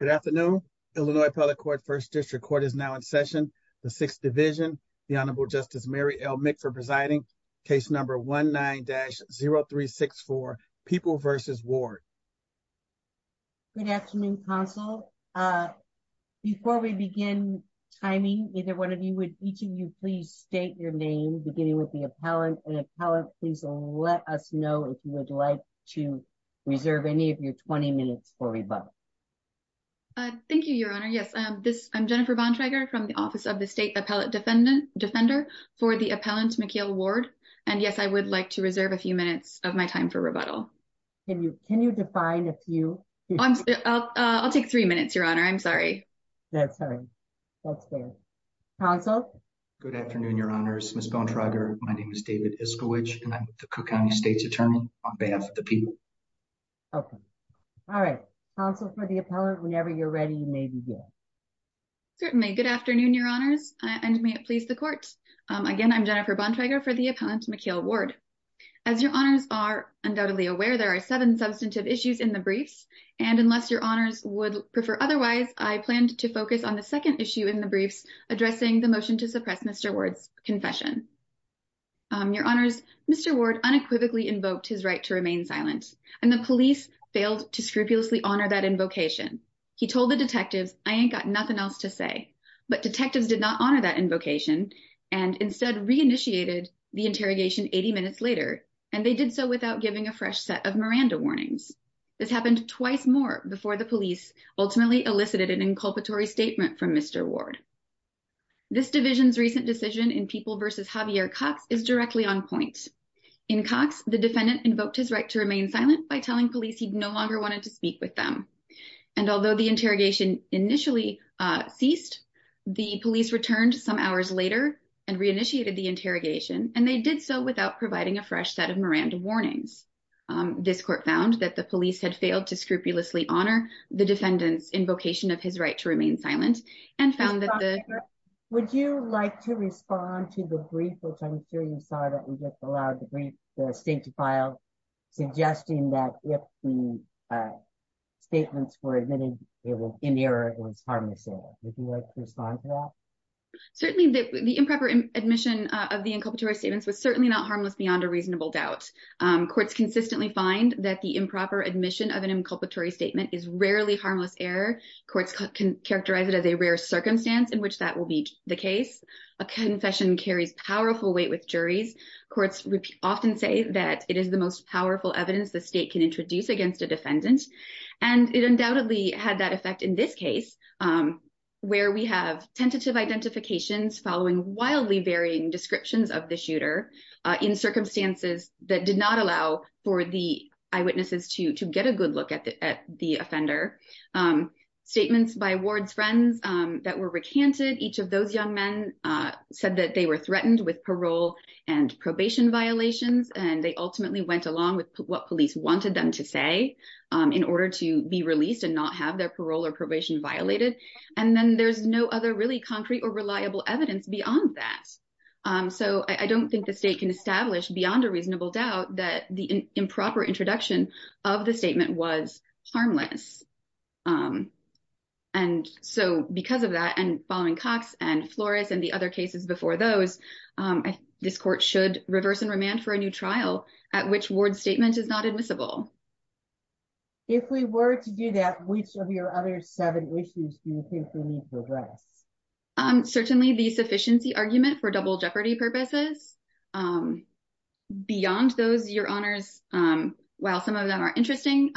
Good afternoon, Illinois public court first district court is now in session, the sixth division, the Honorable Justice Mary l make for presiding case number 19 dash 0364 people versus war. Good afternoon console. Before we begin timing, either one of you would each of you please state your name beginning with the appellant and appellant, please let us know if you would like to reserve any of your 20 minutes for rebuttal. Thank you, Your Honor. Yes, this I'm Jennifer von Traeger from the office of the state appellate defendant defender for the appellant Mikhail Ward. And yes, I would like to reserve a few minutes of my time for rebuttal. Can you can you define if you, I'll take three minutes, Your Honor, I'm sorry. That's right. That's good. Also, good afternoon, Your Honors Miss bone Trager, my name is David is coach and I'm the county state's attorney on behalf of the people. Okay. All right. Also for the appellant whenever you're ready, maybe. Certainly Good afternoon, Your Honors, and may it please the court. Again, I'm Jennifer bond Trager for the appellant Mikhail Ward. As Your Honors are undoubtedly aware there are seven substantive issues in the briefs, and unless Your Honors would prefer otherwise I planned to focus on the second issue in the briefs, addressing the motion to suppress Mr words confession. Your Honors, Mr word unequivocally invoked his right to remain silent, and the police failed to scrupulously honor that invocation. He told the detectives, I ain't got nothing else to say, but detectives did not honor that invocation, and instead reinitiated the interrogation 80 minutes later, and they did so without giving a fresh set of Miranda warnings. This happened twice more before the police ultimately elicited an inculpatory statement from Mr ward. This division's recent decision in people versus Javier Cox is directly on point in Cox, the defendant invoked his right to remain silent by telling police he no longer wanted to speak with them. And although the interrogation initially ceased the police returned some hours later, and reinitiated the interrogation, and they did so without providing a fresh set of Miranda warnings. This court found that the police had failed to scrupulously honor the defendants invocation of his right to remain silent, and found that the. Would you like to respond to the brief which I'm sure you saw that we just allowed the brief, the state to file, suggesting that if the statements were admitted, it was in there, it was harmless. Certainly, the improper admission of the inculpatory statements was certainly not harmless beyond a reasonable doubt courts consistently find that the improper admission of an inculpatory statement is rarely harmless error courts can characterize it as a rare circumstance in which that will be the case, a confession carries powerful weight with juries courts often say that it is the most powerful evidence the state can introduce against a defendant, and it undoubtedly had that effect in this case. Where we have tentative identifications following wildly varying descriptions of the shooter in circumstances that did not allow for the eyewitnesses to to get a good look at the at the offender. Statements by awards friends that were recanted each of those young men said that they were threatened with parole and probation violations and they ultimately went along with what police wanted them to say in order to be released and not have their parole or probation violated. And then there's no other really concrete or reliable evidence beyond that. So I don't think the state can establish beyond a reasonable doubt that the improper introduction of the statement was harmless. And so, because of that and following Cox and Flores and the other cases before those this court should reverse and remand for a new trial at which word statement is not admissible. If we were to do that, which of your other seven issues. Certainly the sufficiency argument for double jeopardy purposes. Beyond those your honors. While some of them are interesting.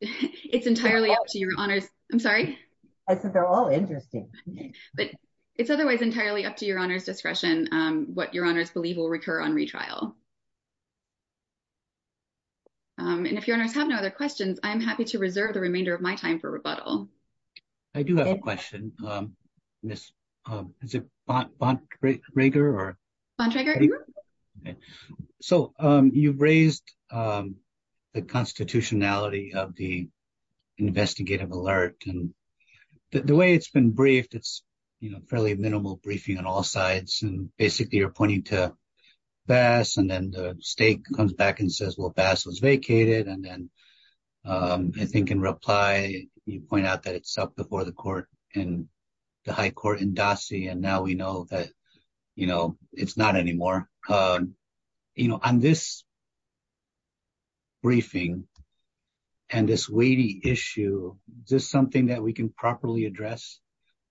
It's entirely up to your honors. I'm sorry. I said they're all interesting. But it's otherwise entirely up to your honors discretion, what your honors believe will recur on retrial. And if you don't have no other questions, I'm happy to reserve the remainder of my time for rebuttal. I do have a question. Miss. Is it. So, you've raised the constitutionality of the investigative alert and the way it's been briefed it's, you know, fairly minimal briefing on all sides and basically you're pointing to. Bass and then the state comes back and says well bass was vacated and then I think in reply, you point out that it's up before the court, and the high court and Dossie and now we know that, you know, it's not anymore. You know, on this briefing. And this we issue, just something that we can properly address.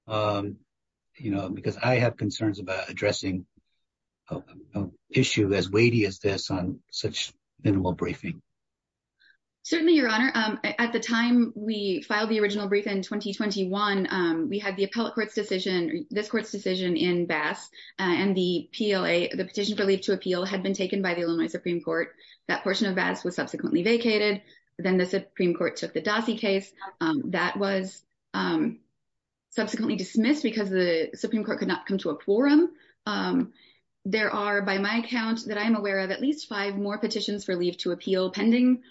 You know, because I have concerns about addressing issue as weighty as this on such minimal briefing. Certainly, your honor, at the time we filed the original brief in 2021, we had the appellate court's decision this court's decision in bass and the PLA, the petition for leave to appeal had been taken by the Illinois Supreme Court. That portion of bass was subsequently vacated. Then the Supreme Court took the Dossie case that was subsequently dismissed because the Supreme Court could not come to a quorum. There are by my account that I am aware of at least five more petitions for leave to appeal pending.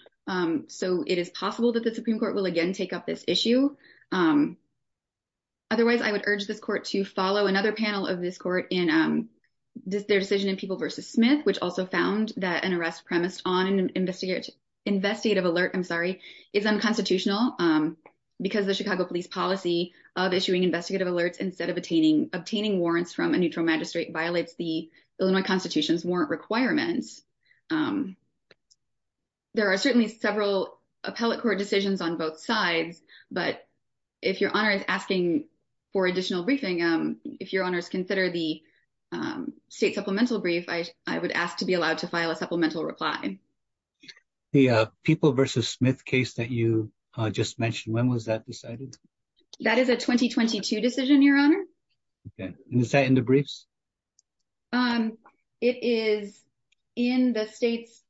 So, it is possible that the Supreme Court will again take up this issue. Otherwise, I would urge this court to follow another panel of this court in their decision in people versus Smith, which also found that an arrest premised on investigative investigative alert. I'm sorry is unconstitutional because the Chicago police policy of issuing investigative alerts instead of attaining obtaining warrants from a neutral magistrate violates the Illinois Constitution's warrant requirements. There are certainly several appellate court decisions on both sides, but if your honor is asking for additional briefing, if your honors consider the state supplemental brief, I would ask to be allowed to file a supplemental reply. The people versus Smith case that you just mentioned, when was that decided? That is a 2022 decision, your honor. Is that in the briefs? It is in the state's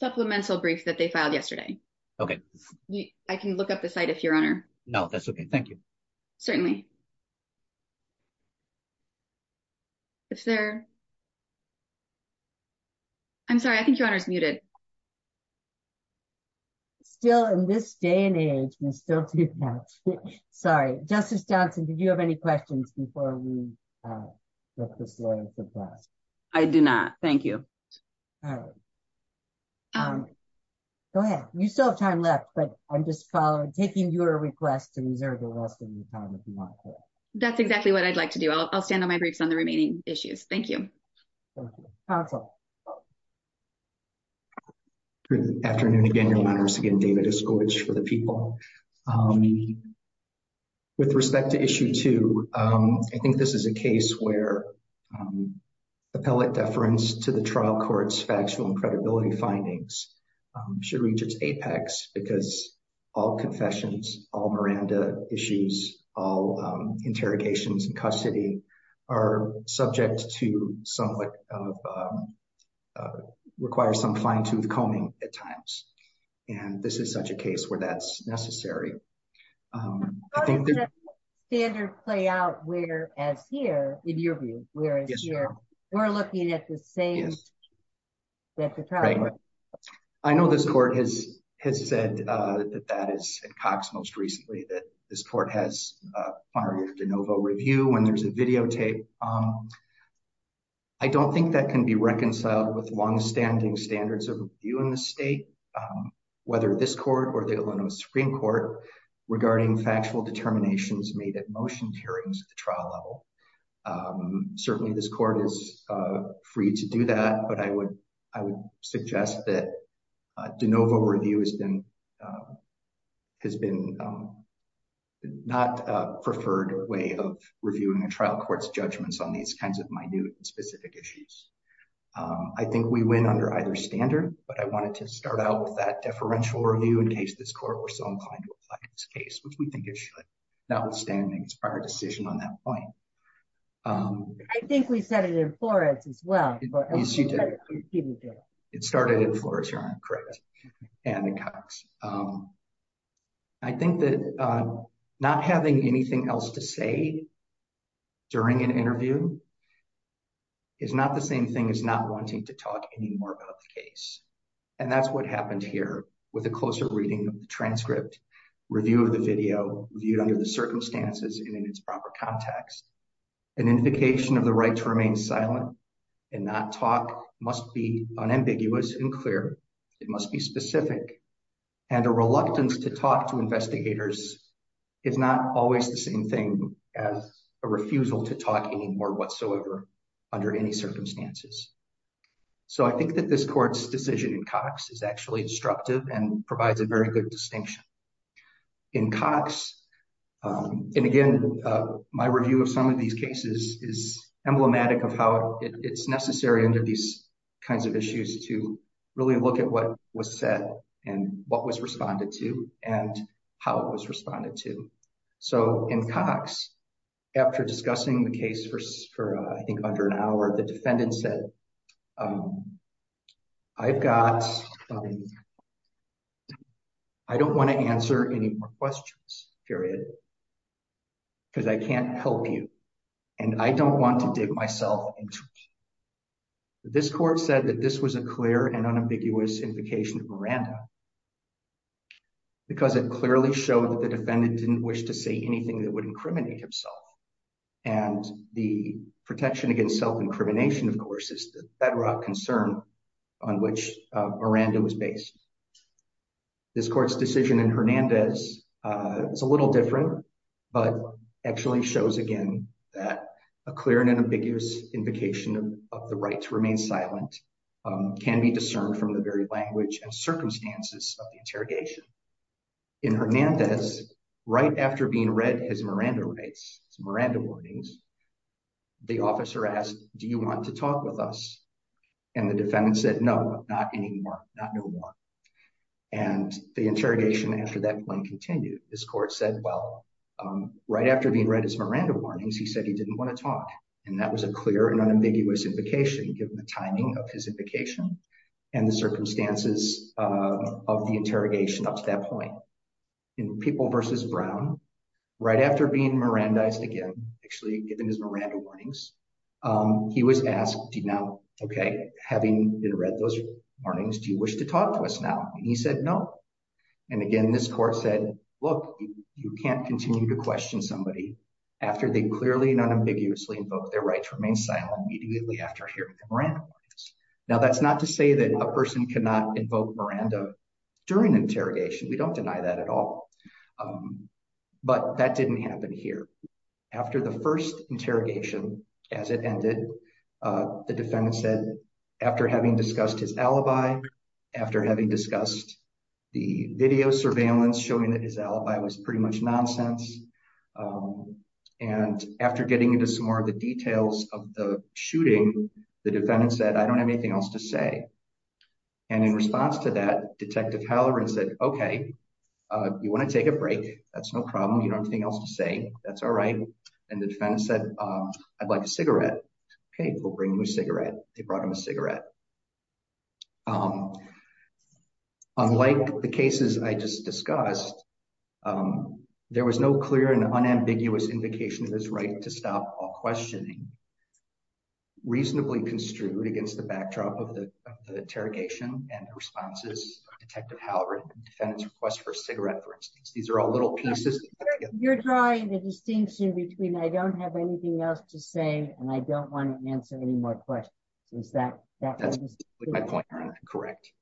supplemental brief that they filed yesterday. Okay. I can look up the site if your honor. No, that's okay. Thank you. Certainly. If there. I'm sorry, I think your honor is muted. Still in this day and age, we still do that. Sorry, Justice Johnson, did you have any questions before we look this lawyer for class. I do not. Thank you. Go ahead. You still have time left, but I'm just taking your request to reserve the rest of the time if you want. That's exactly what I'd like to do. I'll stand on my briefs on the remaining issues. Thank you. Council. Afternoon again, your honors again, David is good for the people. With respect to issue two, I think this is a case where. Appellate deference to the trial courts factual and credibility findings should reach its apex because all confessions all Miranda issues, all interrogations and custody are subject to some. Require some fine tooth combing at times. And this is such a case where that's necessary. I think the standard play out where as here, in your view, where we're looking at the same. That's right. I know this court has has said that that is Cox most recently that this court has. De novo review when there's a videotape. I don't think that can be reconciled with long standing standards of view in the state, whether this court or the Illinois Supreme Court regarding factual determinations made at motion hearings at the trial level. Certainly, this court is free to do that. But I would, I would suggest that de novo review has been. Has been not preferred way of reviewing a trial courts judgments on these kinds of my new specific issues. I think we win under either standard, but I wanted to start out with that deferential review in case this court were so inclined to apply this case, which we think is not withstanding its prior decision on that point. I think we said it in Florence as well. It started in Florida. Correct. And it comes. I think that not having anything else to say during an interview. Is not the same thing as not wanting to talk anymore about the case. And that's what happened here with a closer reading of the transcript review of the video viewed under the circumstances in its proper context. An indication of the right to remain silent and not talk must be unambiguous and clear. It must be specific and a reluctance to talk to investigators. It's not always the same thing as a refusal to talk anymore whatsoever under any circumstances. So I think that this court's decision in Cox is actually instructive and provides a very good distinction in Cox. And again, my review of some of these cases is emblematic of how it's necessary under these kinds of issues to really look at what was said and what was responded to and how it was responded to. So in Cox, after discussing the case for I think under an hour, the defendant said. I've got. I don't want to answer any more questions, period. Because I can't help you. And I don't want to dig myself into. This court said that this was a clear and unambiguous indication of Miranda. Because it clearly showed that the defendant didn't wish to say anything that would incriminate himself and the protection against self-incrimination, of course, is the bedrock concern on which Miranda was based. This court's decision in Hernandez is a little different, but actually shows again that a clear and unambiguous indication of the right to remain silent can be discerned from the very language and circumstances of the interrogation. In Hernandez, right after being read his Miranda rights, his Miranda warnings, the officer asked, do you want to talk with us? And the defendant said, no, not anymore, not no more. And the interrogation after that point continued, this court said, well, right after being read his Miranda warnings, he said he didn't want to talk. And that was a clear and unambiguous indication, given the timing of his invocation and the circumstances of the interrogation up to that point. In People v. Brown, right after being Mirandized again, actually given his Miranda warnings, he was asked, okay, having been read those warnings, do you wish to talk to us now? And he said, no. And again, this court said, look, you can't continue to question somebody after they clearly and unambiguously invoked their rights to remain silent immediately after hearing the Miranda warnings. Now, that's not to say that a person cannot invoke Miranda during interrogation. We don't deny that at all. But that didn't happen here. After the first interrogation, as it ended, the defendant said, after having discussed his alibi, after having discussed the video surveillance showing that his alibi was pretty much nonsense. And after getting into some more of the details of the shooting, the defendant said, I don't have anything else to say. And in response to that, Detective Halloran said, okay, you want to take a break. That's no problem. You don't have anything else to say. That's all right. And the defendant said, I'd like a cigarette. Okay, we'll bring you a cigarette. They brought him a cigarette. Unlike the cases I just discussed, there was no clear and unambiguous indication of his right to stop all questioning. Reasonably construed against the backdrop of the interrogation and responses, Detective Halloran and the defendant's request for a cigarette, for instance. These are all little pieces. You're drawing the distinction between I don't have anything else to say and I don't want to answer any more questions. That's my point, Your Honor. Correct.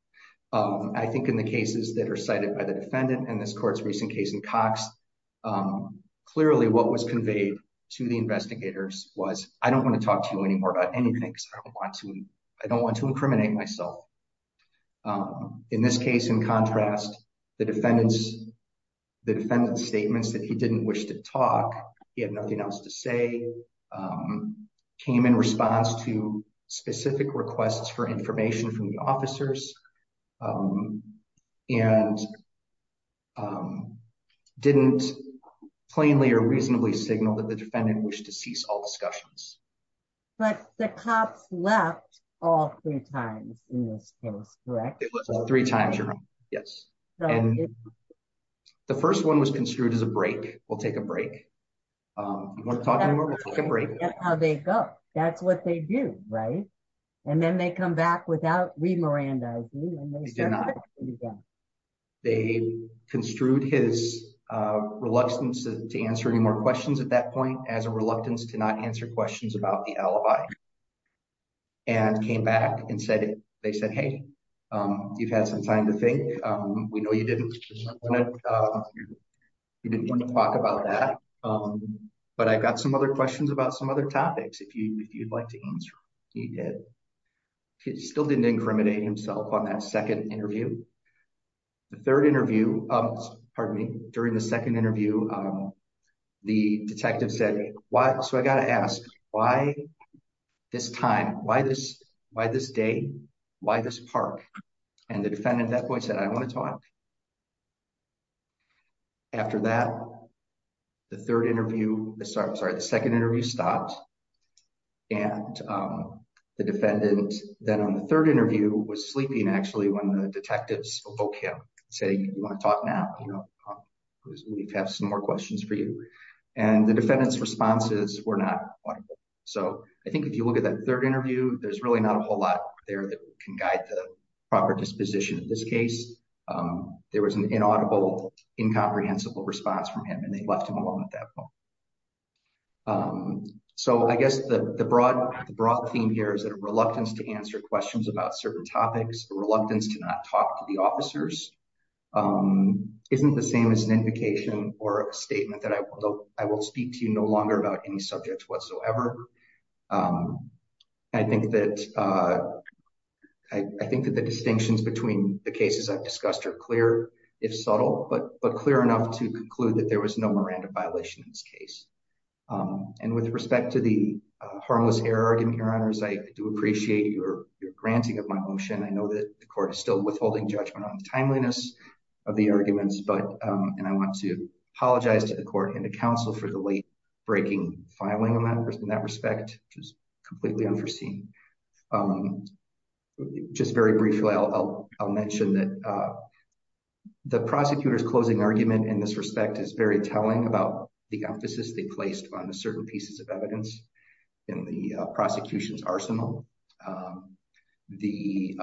I think in the cases that are cited by the defendant and this court's recent case in Cox, clearly what was conveyed to the investigators was, I don't want to talk to you anymore about anything because I don't want to incriminate myself. In this case, in contrast, the defendant's statements that he didn't wish to talk, he had nothing else to say, came in response to specific requests for information from the officers and didn't plainly or reasonably signal that the defendant wished to cease all discussions. But the cops left all three times in this case, correct? It was all three times, Your Honor. Yes. The first one was construed as a break. We'll take a break. You want to talk anymore? We'll take a break. That's how they go. That's what they do, right? And then they come back without re-mirandizing. They did not. They construed his reluctance to answer any more questions at that point as a reluctance to not answer questions about the alibi. And came back and said, they said, hey, you've had some time to think. We know you didn't want to talk about that. But I've got some other questions about some other topics if you'd like to answer. He did. He still didn't incriminate himself on that second interview. The third interview, pardon me, during the second interview, the detective said, so I got to ask, why this time? Why this day? Why this park? And the defendant at that point said, I want to talk. After that, the third interview, I'm sorry, the second interview stopped. And the defendant then on the third interview was sleeping actually when the detectives woke him and said, you want to talk now? We have some more questions for you. And the defendant's responses were not audible. So I think if you look at that third interview, there's really not a whole lot there that can guide the proper disposition in this case. There was an inaudible, incomprehensible response from him, and they left him alone at that point. So I guess the broad theme here is that a reluctance to answer questions about certain topics, a reluctance to not talk to the officers, isn't the same as an invocation or a statement that I will speak to you no longer about any subjects whatsoever. I think that the distinctions between the cases I've discussed are clear, if subtle, but clear enough to conclude that there was no Miranda violation in this case. And with respect to the harmless error argument, Your Honors, I do appreciate your granting of my motion. I know that the court is still withholding judgment on the timeliness of the arguments, and I want to apologize to the court and the counsel for the late breaking filing in that respect, which was completely unforeseen. Just very briefly, I'll mention that the prosecutor's closing argument in this respect is very telling about the emphasis they placed on the certain pieces of evidence in the prosecution's arsenal. The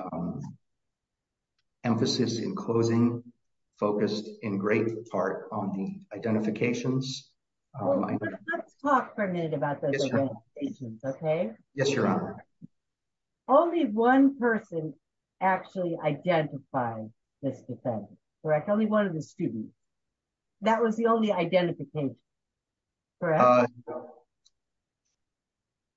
emphasis in closing focused in great part on the identifications. Let's talk for a minute about those identifications, okay? Yes, Your Honor. Only one person actually identified this defendant, correct? Only one of the students. That was the only identification, correct?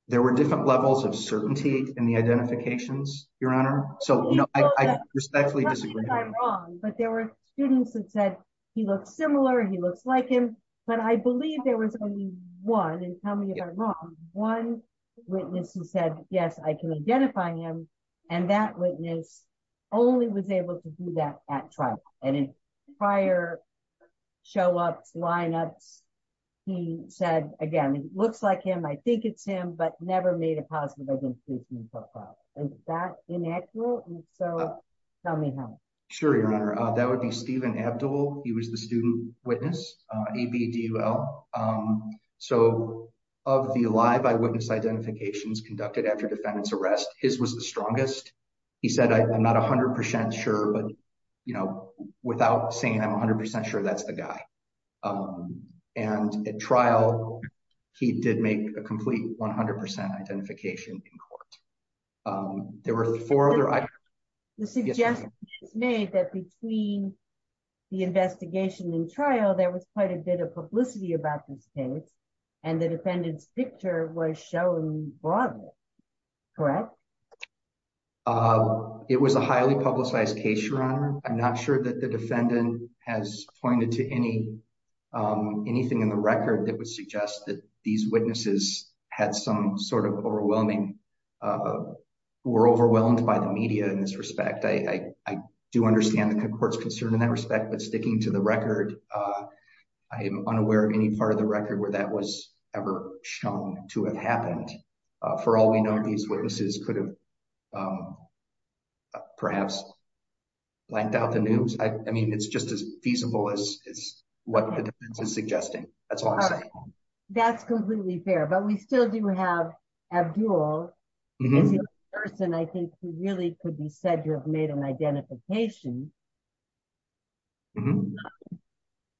There were different levels of certainty in the identifications, Your Honor, so I respectfully disagree. But there were students that said he looks similar, he looks like him, but I believe there was only one, and tell me if I'm wrong, one witness who said, yes, I can identify him, and that witness only was able to do that at trial. And in prior show-ups, line-ups, he said, again, he looks like him, I think it's him, but never made a positive identification profile. Is that inaccurate? And if so, tell me how. Sure, Your Honor. That would be Steven Abdul. He was the student witness, ABDUL. So, of the live eyewitness identifications conducted after defendant's arrest, his was the strongest. He said, I'm not 100% sure, but, you know, without saying I'm 100% sure that's the guy. And at trial, he did make a complete 100% identification in court. There were four other... The suggestion is made that between the investigation and trial, there was quite a bit of publicity about this case, and the defendant's picture was shown broadly, correct? It was a highly publicized case, Your Honor. I'm not sure that the defendant has pointed to anything in the record that would suggest that these witnesses had some sort of overwhelming, were overwhelmed by the media in this respect. I do understand the court's concern in that respect, but sticking to the record, I am unaware of any part of the record where that was ever shown to have happened. For all we know, these witnesses could have perhaps blanked out the news. I mean, it's just as feasible as what the defense is suggesting. That's all I'm saying. That's completely fair, but we still do have Abdul. As a person, I think he really could be said to have made an identification,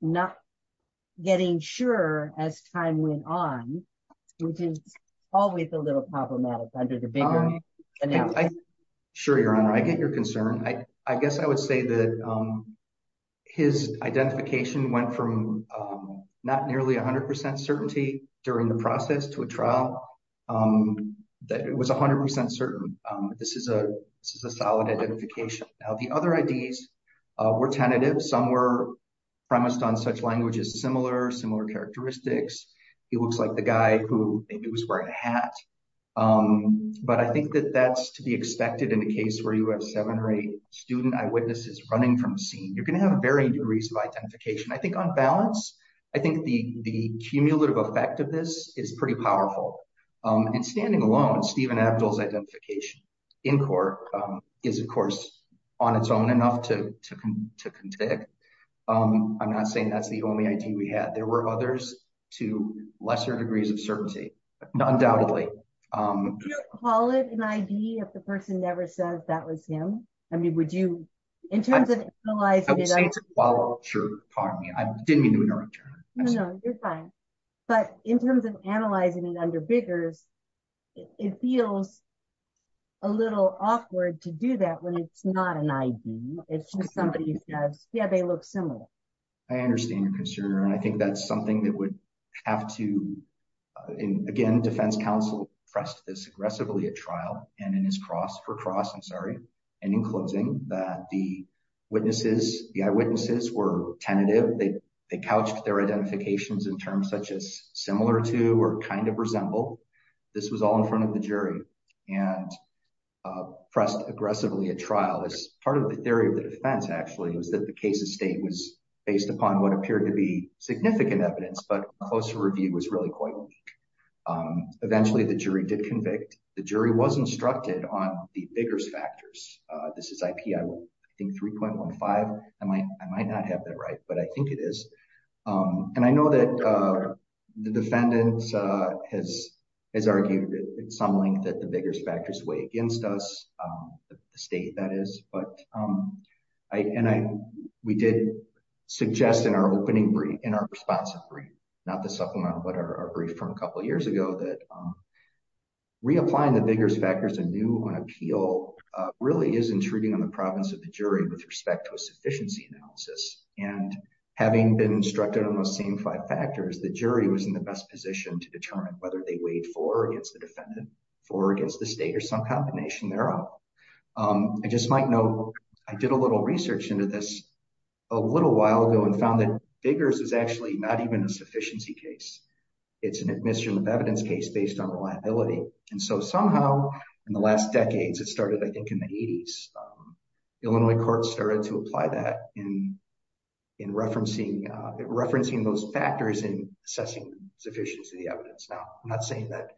not getting sure as time went on, which is always a little problematic under the bigger analysis. Sure, Your Honor. I get your concern. I guess I would say that his identification went from not nearly 100% certainty during the process to a trial that it was 100% certain. This is a solid identification. Now, the other IDs were tentative. Some were premised on such languages, similar characteristics. He looks like the guy who maybe was wearing a hat. But I think that that's to be expected in a case where you have seven or eight student eyewitnesses running from a scene. You're going to have varying degrees of identification. I think on balance, I think the cumulative effect of this is pretty powerful. And standing alone, Stephen Abdul's identification in court is, of course, on its own enough to contend. I'm not saying that's the only ID we had. There were others to lesser degrees of certainty, undoubtedly. Could you call it an ID if the person never says that was him? I mean, would you, in terms of analyzing it? I would say it's a follow-up. Sure, pardon me. I didn't mean to interrupt you. No, no, you're fine. But in terms of analyzing it under Biggers, it feels a little awkward to do that when it's not an ID. It's just somebody says, yeah, they look similar. I understand your concern, and I think that's something that would have to, again, defense counsel pressed this aggressively at trial and in his cross for cross, I'm sorry, and in closing that the eyewitnesses were tentative. They couched their identifications in terms such as similar to or kind of resemble. This was all in front of the jury and pressed aggressively at trial as part of the theory of the defense actually was that the case of state was based upon what appeared to be significant evidence. But a closer review was really quite weak. Eventually, the jury did convict. The jury was instructed on the Biggers factors. This is IP, I think, 3.15. I might not have that right, but I think it is. And I know that the defendants has has argued at some length that the biggest factors way against us, the state that is, but I and I, we did suggest in our opening brief in our response. Not the supplemental but our brief from a couple years ago that reapplying the biggest factors and new appeal really is intruding on the province of the jury with respect to a sufficiency analysis. And having been instructed on those same five factors, the jury was in the best position to determine whether they wait for against the defendant for against the state or some combination thereof. I just might know. I did a little research into this a little while ago and found that figures is actually not even a sufficiency case. It's an admission of evidence case based on reliability. And so somehow, in the last decades, it started, I think, in the 80s, Illinois court started to apply that in in referencing referencing those factors in assessing sufficient to the evidence. Now, I'm not saying that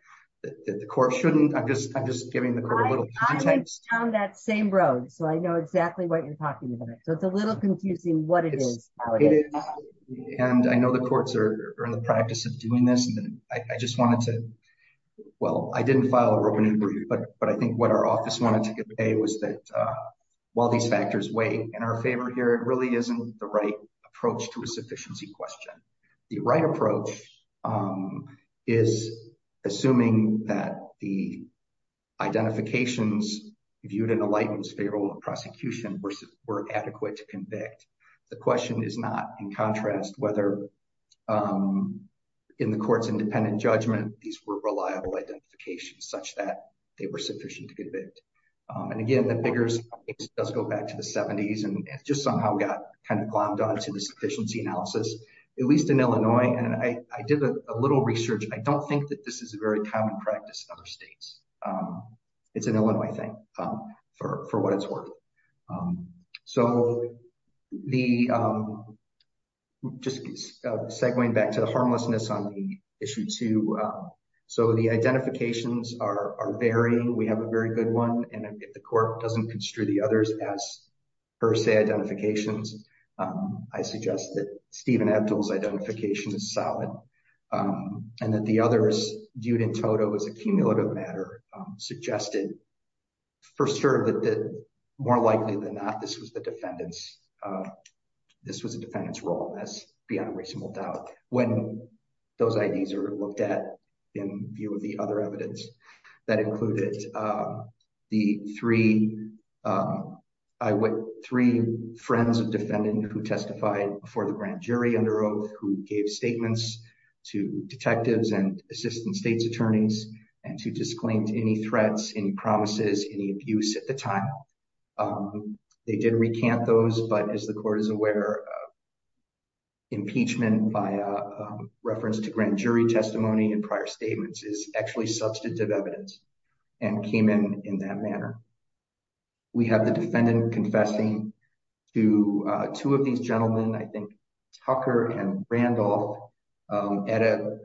the court shouldn't. I'm just I'm just giving the court a little context on that same road. So I know exactly what you're talking about. So it's a little confusing what it is. And I know the courts are in the practice of doing this and I just wanted to. Well, I didn't file a review, but I think what our office wanted to say was that while these factors weigh in our favor here, it really isn't the right approach to a sufficiency question. The right approach is assuming that the identifications viewed in a lightness favorable prosecution versus were adequate to convict. The question is not, in contrast, whether in the court's independent judgment, these were reliable identifications such that they were sufficient to convict. And again, the bigger does go back to the 70s and just somehow got kind of glommed on to this efficiency analysis, at least in Illinois. And I did a little research. I don't think that this is a very common practice in other states. It's an Illinois thing for what it's worth. So the just segwaying back to the harmlessness on the issue, too. So the identifications are varying. We have a very good one. And if the court doesn't construe the others as per se identifications, I suggest that Stephen Abdul's identification is solid. And that the others viewed in total as a cumulative matter suggested for sure that more likely than not, this was the defendants. This was a defendant's role as beyond reasonable doubt when those IDs are looked at in view of the other evidence that included the three. I went three friends of defendant who testified for the grand jury under oath who gave statements to detectives and assistant state's attorneys and to disclaimed any threats, any promises, any abuse at the time. They did recant those. But as the court is aware. Impeachment by reference to grand jury testimony and prior statements is actually substantive evidence and came in in that manner. We have the defendant confessing to two of these gentlemen, I think, Tucker and Randolph at a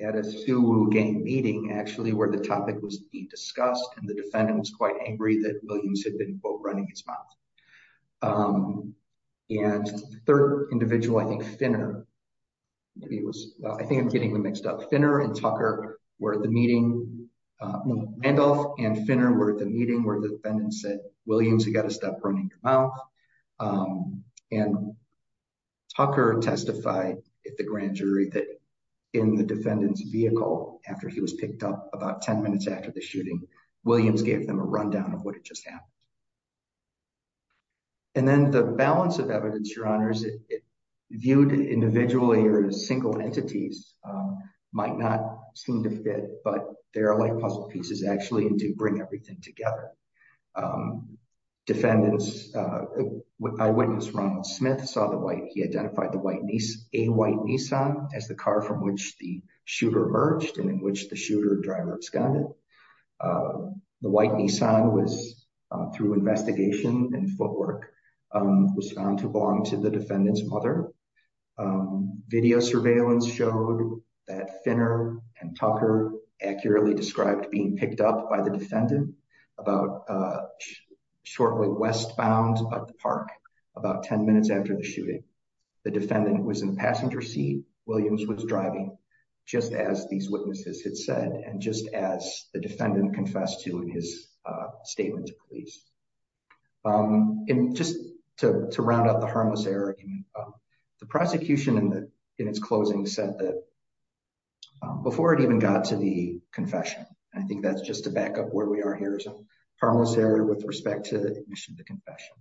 at a game meeting, actually, where the topic was being discussed. And the defendant was quite angry that Williams had been running his mouth. And the third individual, I think, Finner. He was, I think I'm getting mixed up Finner and Tucker were at the meeting. Randolph and Finner were at the meeting where the defendant said, Williams, you got to stop running your mouth. And Tucker testified at the grand jury that in the defendant's vehicle after he was picked up about 10 minutes after the shooting, Williams gave them a rundown of what had just happened. And then the balance of evidence, your honors, viewed individually or as single entities might not seem to fit, but there are like puzzle pieces actually to bring everything together. Defendants, eyewitness Ronald Smith saw the white, he identified the white, a white Nissan as the car from which the shooter emerged and in which the shooter driver absconded. The white Nissan was through investigation and footwork was found to belong to the defendant's mother. Video surveillance showed that Finner and Tucker accurately described being picked up by the defendant about shortly westbound at the park, about 10 minutes after the shooting. The defendant was in the passenger seat, Williams was driving, just as these witnesses had said and just as the defendant confessed to in his statement to police. And just to round up the harmless error, the prosecution in its closing said that before it even got to the confession, I think that's just to back up where we are here is a harmless error with respect to the admission to confession.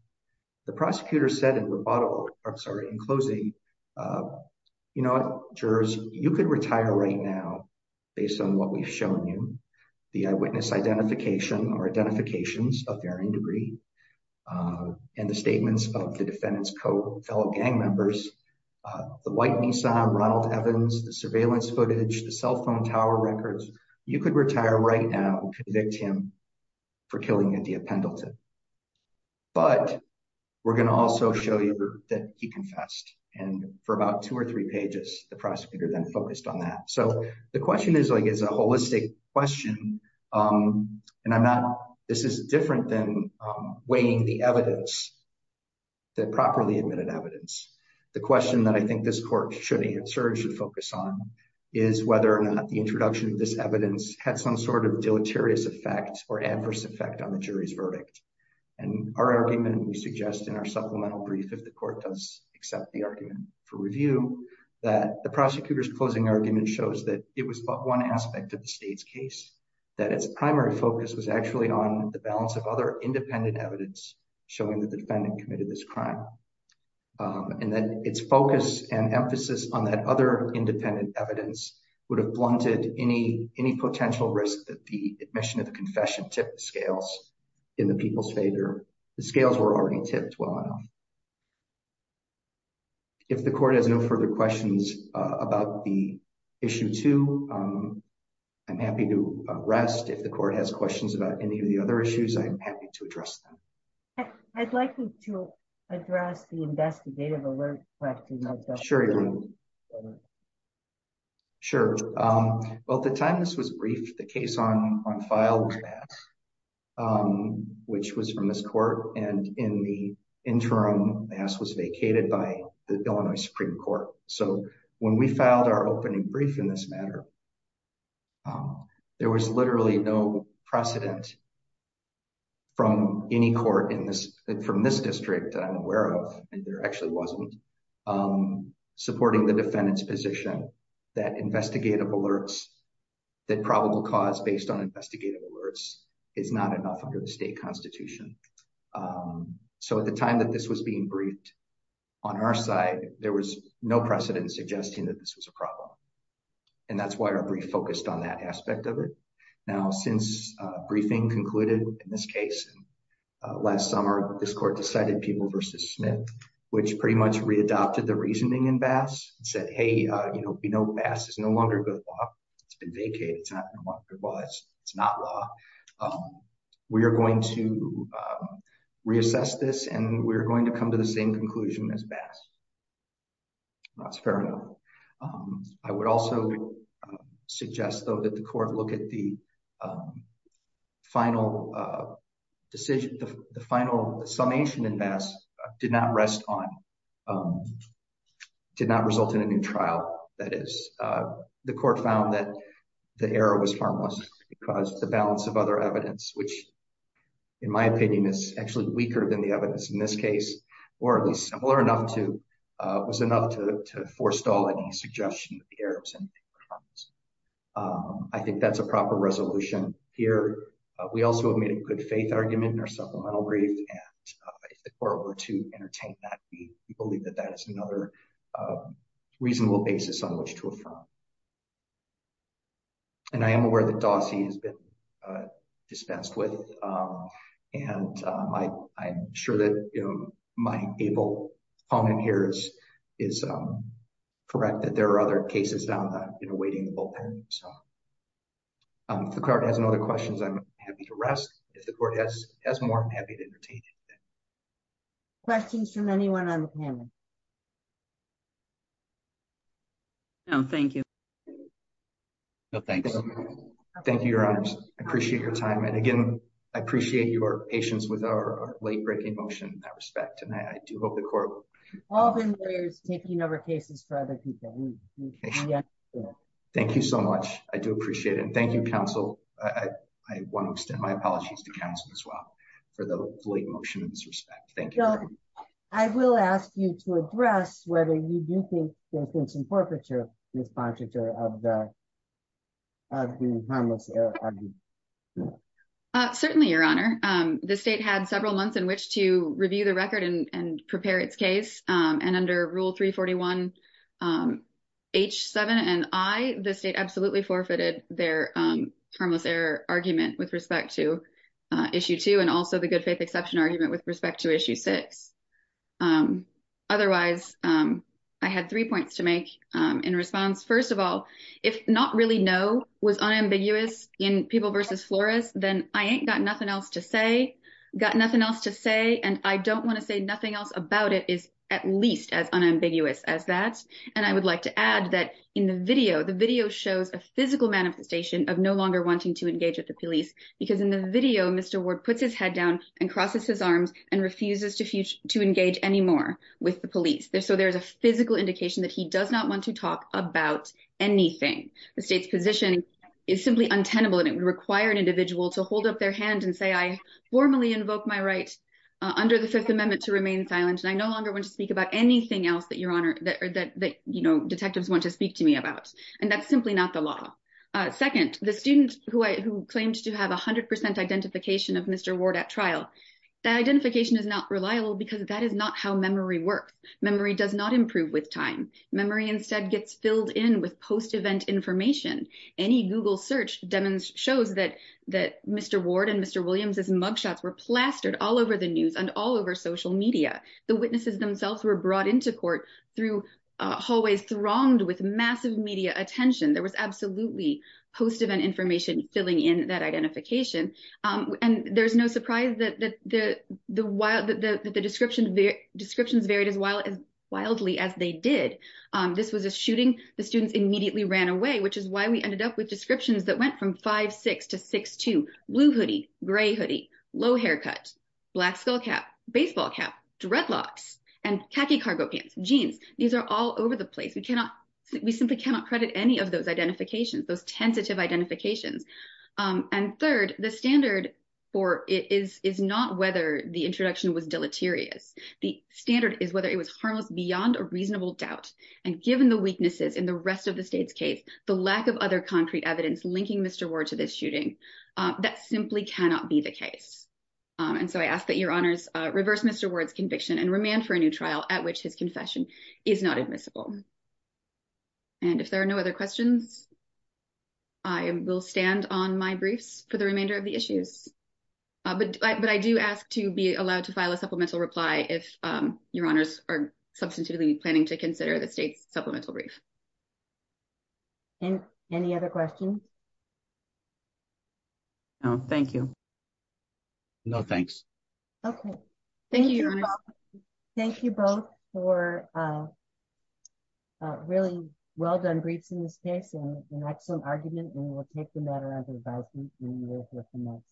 The prosecutor said in rebuttal, I'm sorry, in closing, you know, jurors, you could retire right now, based on what we've shown you, the eyewitness identification or identifications of varying degree, and the statements of the defendant's co-fellow gang members, the white Nissan, Ronald Evans, the surveillance footage, the cell phone tower records, you could retire right now and convict him for killing India Pendleton. We're going to also show you that he confessed, and for about two or three pages, the prosecutor then focused on that. So the question is like is a holistic question. And I'm not, this is different than weighing the evidence that properly admitted evidence. The question that I think this court should answer should focus on is whether or not the introduction of this evidence had some sort of deleterious effect or adverse effect on the jury's verdict. And our argument we suggest in our supplemental brief if the court does accept the argument for review that the prosecutor's closing argument shows that it was but one aspect of the state's case, that its primary focus was actually on the balance of other independent evidence, showing that the defendant committed this crime, and that its focus and emphasis on that other independent evidence would have blunted any potential risk that the admission of the confession tip scales in the people's favor. The scales were already tipped well enough. If the court has no further questions about the issue to. I'm happy to rest if the court has questions about any of the other issues I'm happy to address them. I'd like to address the investigative alert. Sure. Sure. Well the time this was brief the case on on file. Which was from this court, and in the interim mass was vacated by the Illinois Supreme Court. So, when we filed our opening brief in this matter. There was literally no precedent from any court in this from this district that I'm aware of, and there actually wasn't supporting the defendant's position that investigative alerts that probable cause based on investigative alerts is not enough under the state constitution. So at the time that this was being briefed on our side, there was no precedent suggesting that this was a problem. And that's why our brief focused on that aspect of it. Now since briefing concluded in this case. Last summer, this court decided people versus Smith, which pretty much readopted the reasoning and bass said hey, you know, you know bass is no longer good. It's been vacated. It's not law. We are going to reassess this and we're going to come to the same conclusion as bass. That's fair enough. I would also suggest though that the court look at the final decision, the final summation and mass did not rest on did not result in a new trial, that is, the court found that the error was harmless because the balance of other evidence which, in my opinion is actually weaker than the evidence in this case, or at least similar enough to was enough to forestall any suggestion of errors and I think that's a proper resolution here. We also made a good faith argument in our supplemental brief, or to entertain that we believe that that is another reasonable basis on which to affirm. And I am aware that Dossie has been dispensed with. And I, I'm sure that my able phone in here is is correct that there are other cases down that you know waiting. The card has no other questions I'm happy to rest. If the court has has more happy to entertain. Questions from anyone. Thank you. No, thank you. Thank you. I appreciate your time and again, I appreciate your patience with our late breaking motion that respect and I do hope the court is taking over cases for other people. Thank you so much. I do appreciate it. Thank you, counsel. I want to extend my apologies to counsel as well for the late motion in this respect. Thank you. I will ask you to address whether you do think there's been some forfeiture. Certainly, your honor, the state had several months in which to review the record and prepare its case, and under rule 341. H seven and I, the state absolutely forfeited their harmless error argument with respect to issue two and also the good faith exception argument with respect to issue six. Otherwise, I had three points to make in response. First of all, if not really know was unambiguous in people versus florist, then I ain't got nothing else to say. Got nothing else to say and I don't want to say nothing else about it is at least as unambiguous as that. And I would like to add that in the video the video shows a physical manifestation of no longer wanting to engage with the police, because in the video Mr word puts his head down and crosses his arms and refuses to future to engage anymore with the police there so there's a physical indication that he does not want to talk about anything. The state's position is simply untenable and it would require an individual to hold up their hand and say I formally invoke my right under the Fifth Amendment to remain silent and I no longer want to speak about anything else that your honor that you know detectives want to speak to me about, and that's simply not the law. Second, the student who I who claims to have 100% identification of Mr Ward at trial identification is not reliable because that is not how memory work memory does not improve with time memory instead gets filled in with post event information. Any Google search demons shows that that Mr Ward and Mr Williams is mugshots were plastered all over the news and all over social media, the witnesses themselves were brought into court through hallways thronged with massive media attention there was absolutely post event information, filling in that identification. And there's no surprise that the, the, the wild that the description of the descriptions varied as well as wildly as they did. This was a shooting, the students immediately ran away which is why we ended up with descriptions that went from five six to six to blue hoodie gray hoodie low haircut black skullcap baseball cap dreadlocks and khaki cargo pants jeans. These are all over the place we cannot, we simply cannot credit any of those identifications those tentative identifications. And third, the standard for it is, is not whether the introduction was deleterious. The standard is whether it was harmless beyond a reasonable doubt, and given the weaknesses in the rest of the state's case, the lack of other concrete evidence linking Mr Ward to this shooting. That simply cannot be the case. And so I asked that your honors reverse Mr words conviction and remain for a new trial at which his confession is not admissible. And if there are no other questions. I will stand on my briefs for the remainder of the issues. But, but I do ask to be allowed to file a supplemental reply if your honors are substantively planning to consider the state's supplemental brief. And any other questions. Thank you. No, thanks. Okay. Thank you. Thank you both for really well done briefs in this case and an excellent argument and we'll take the matter under advisement.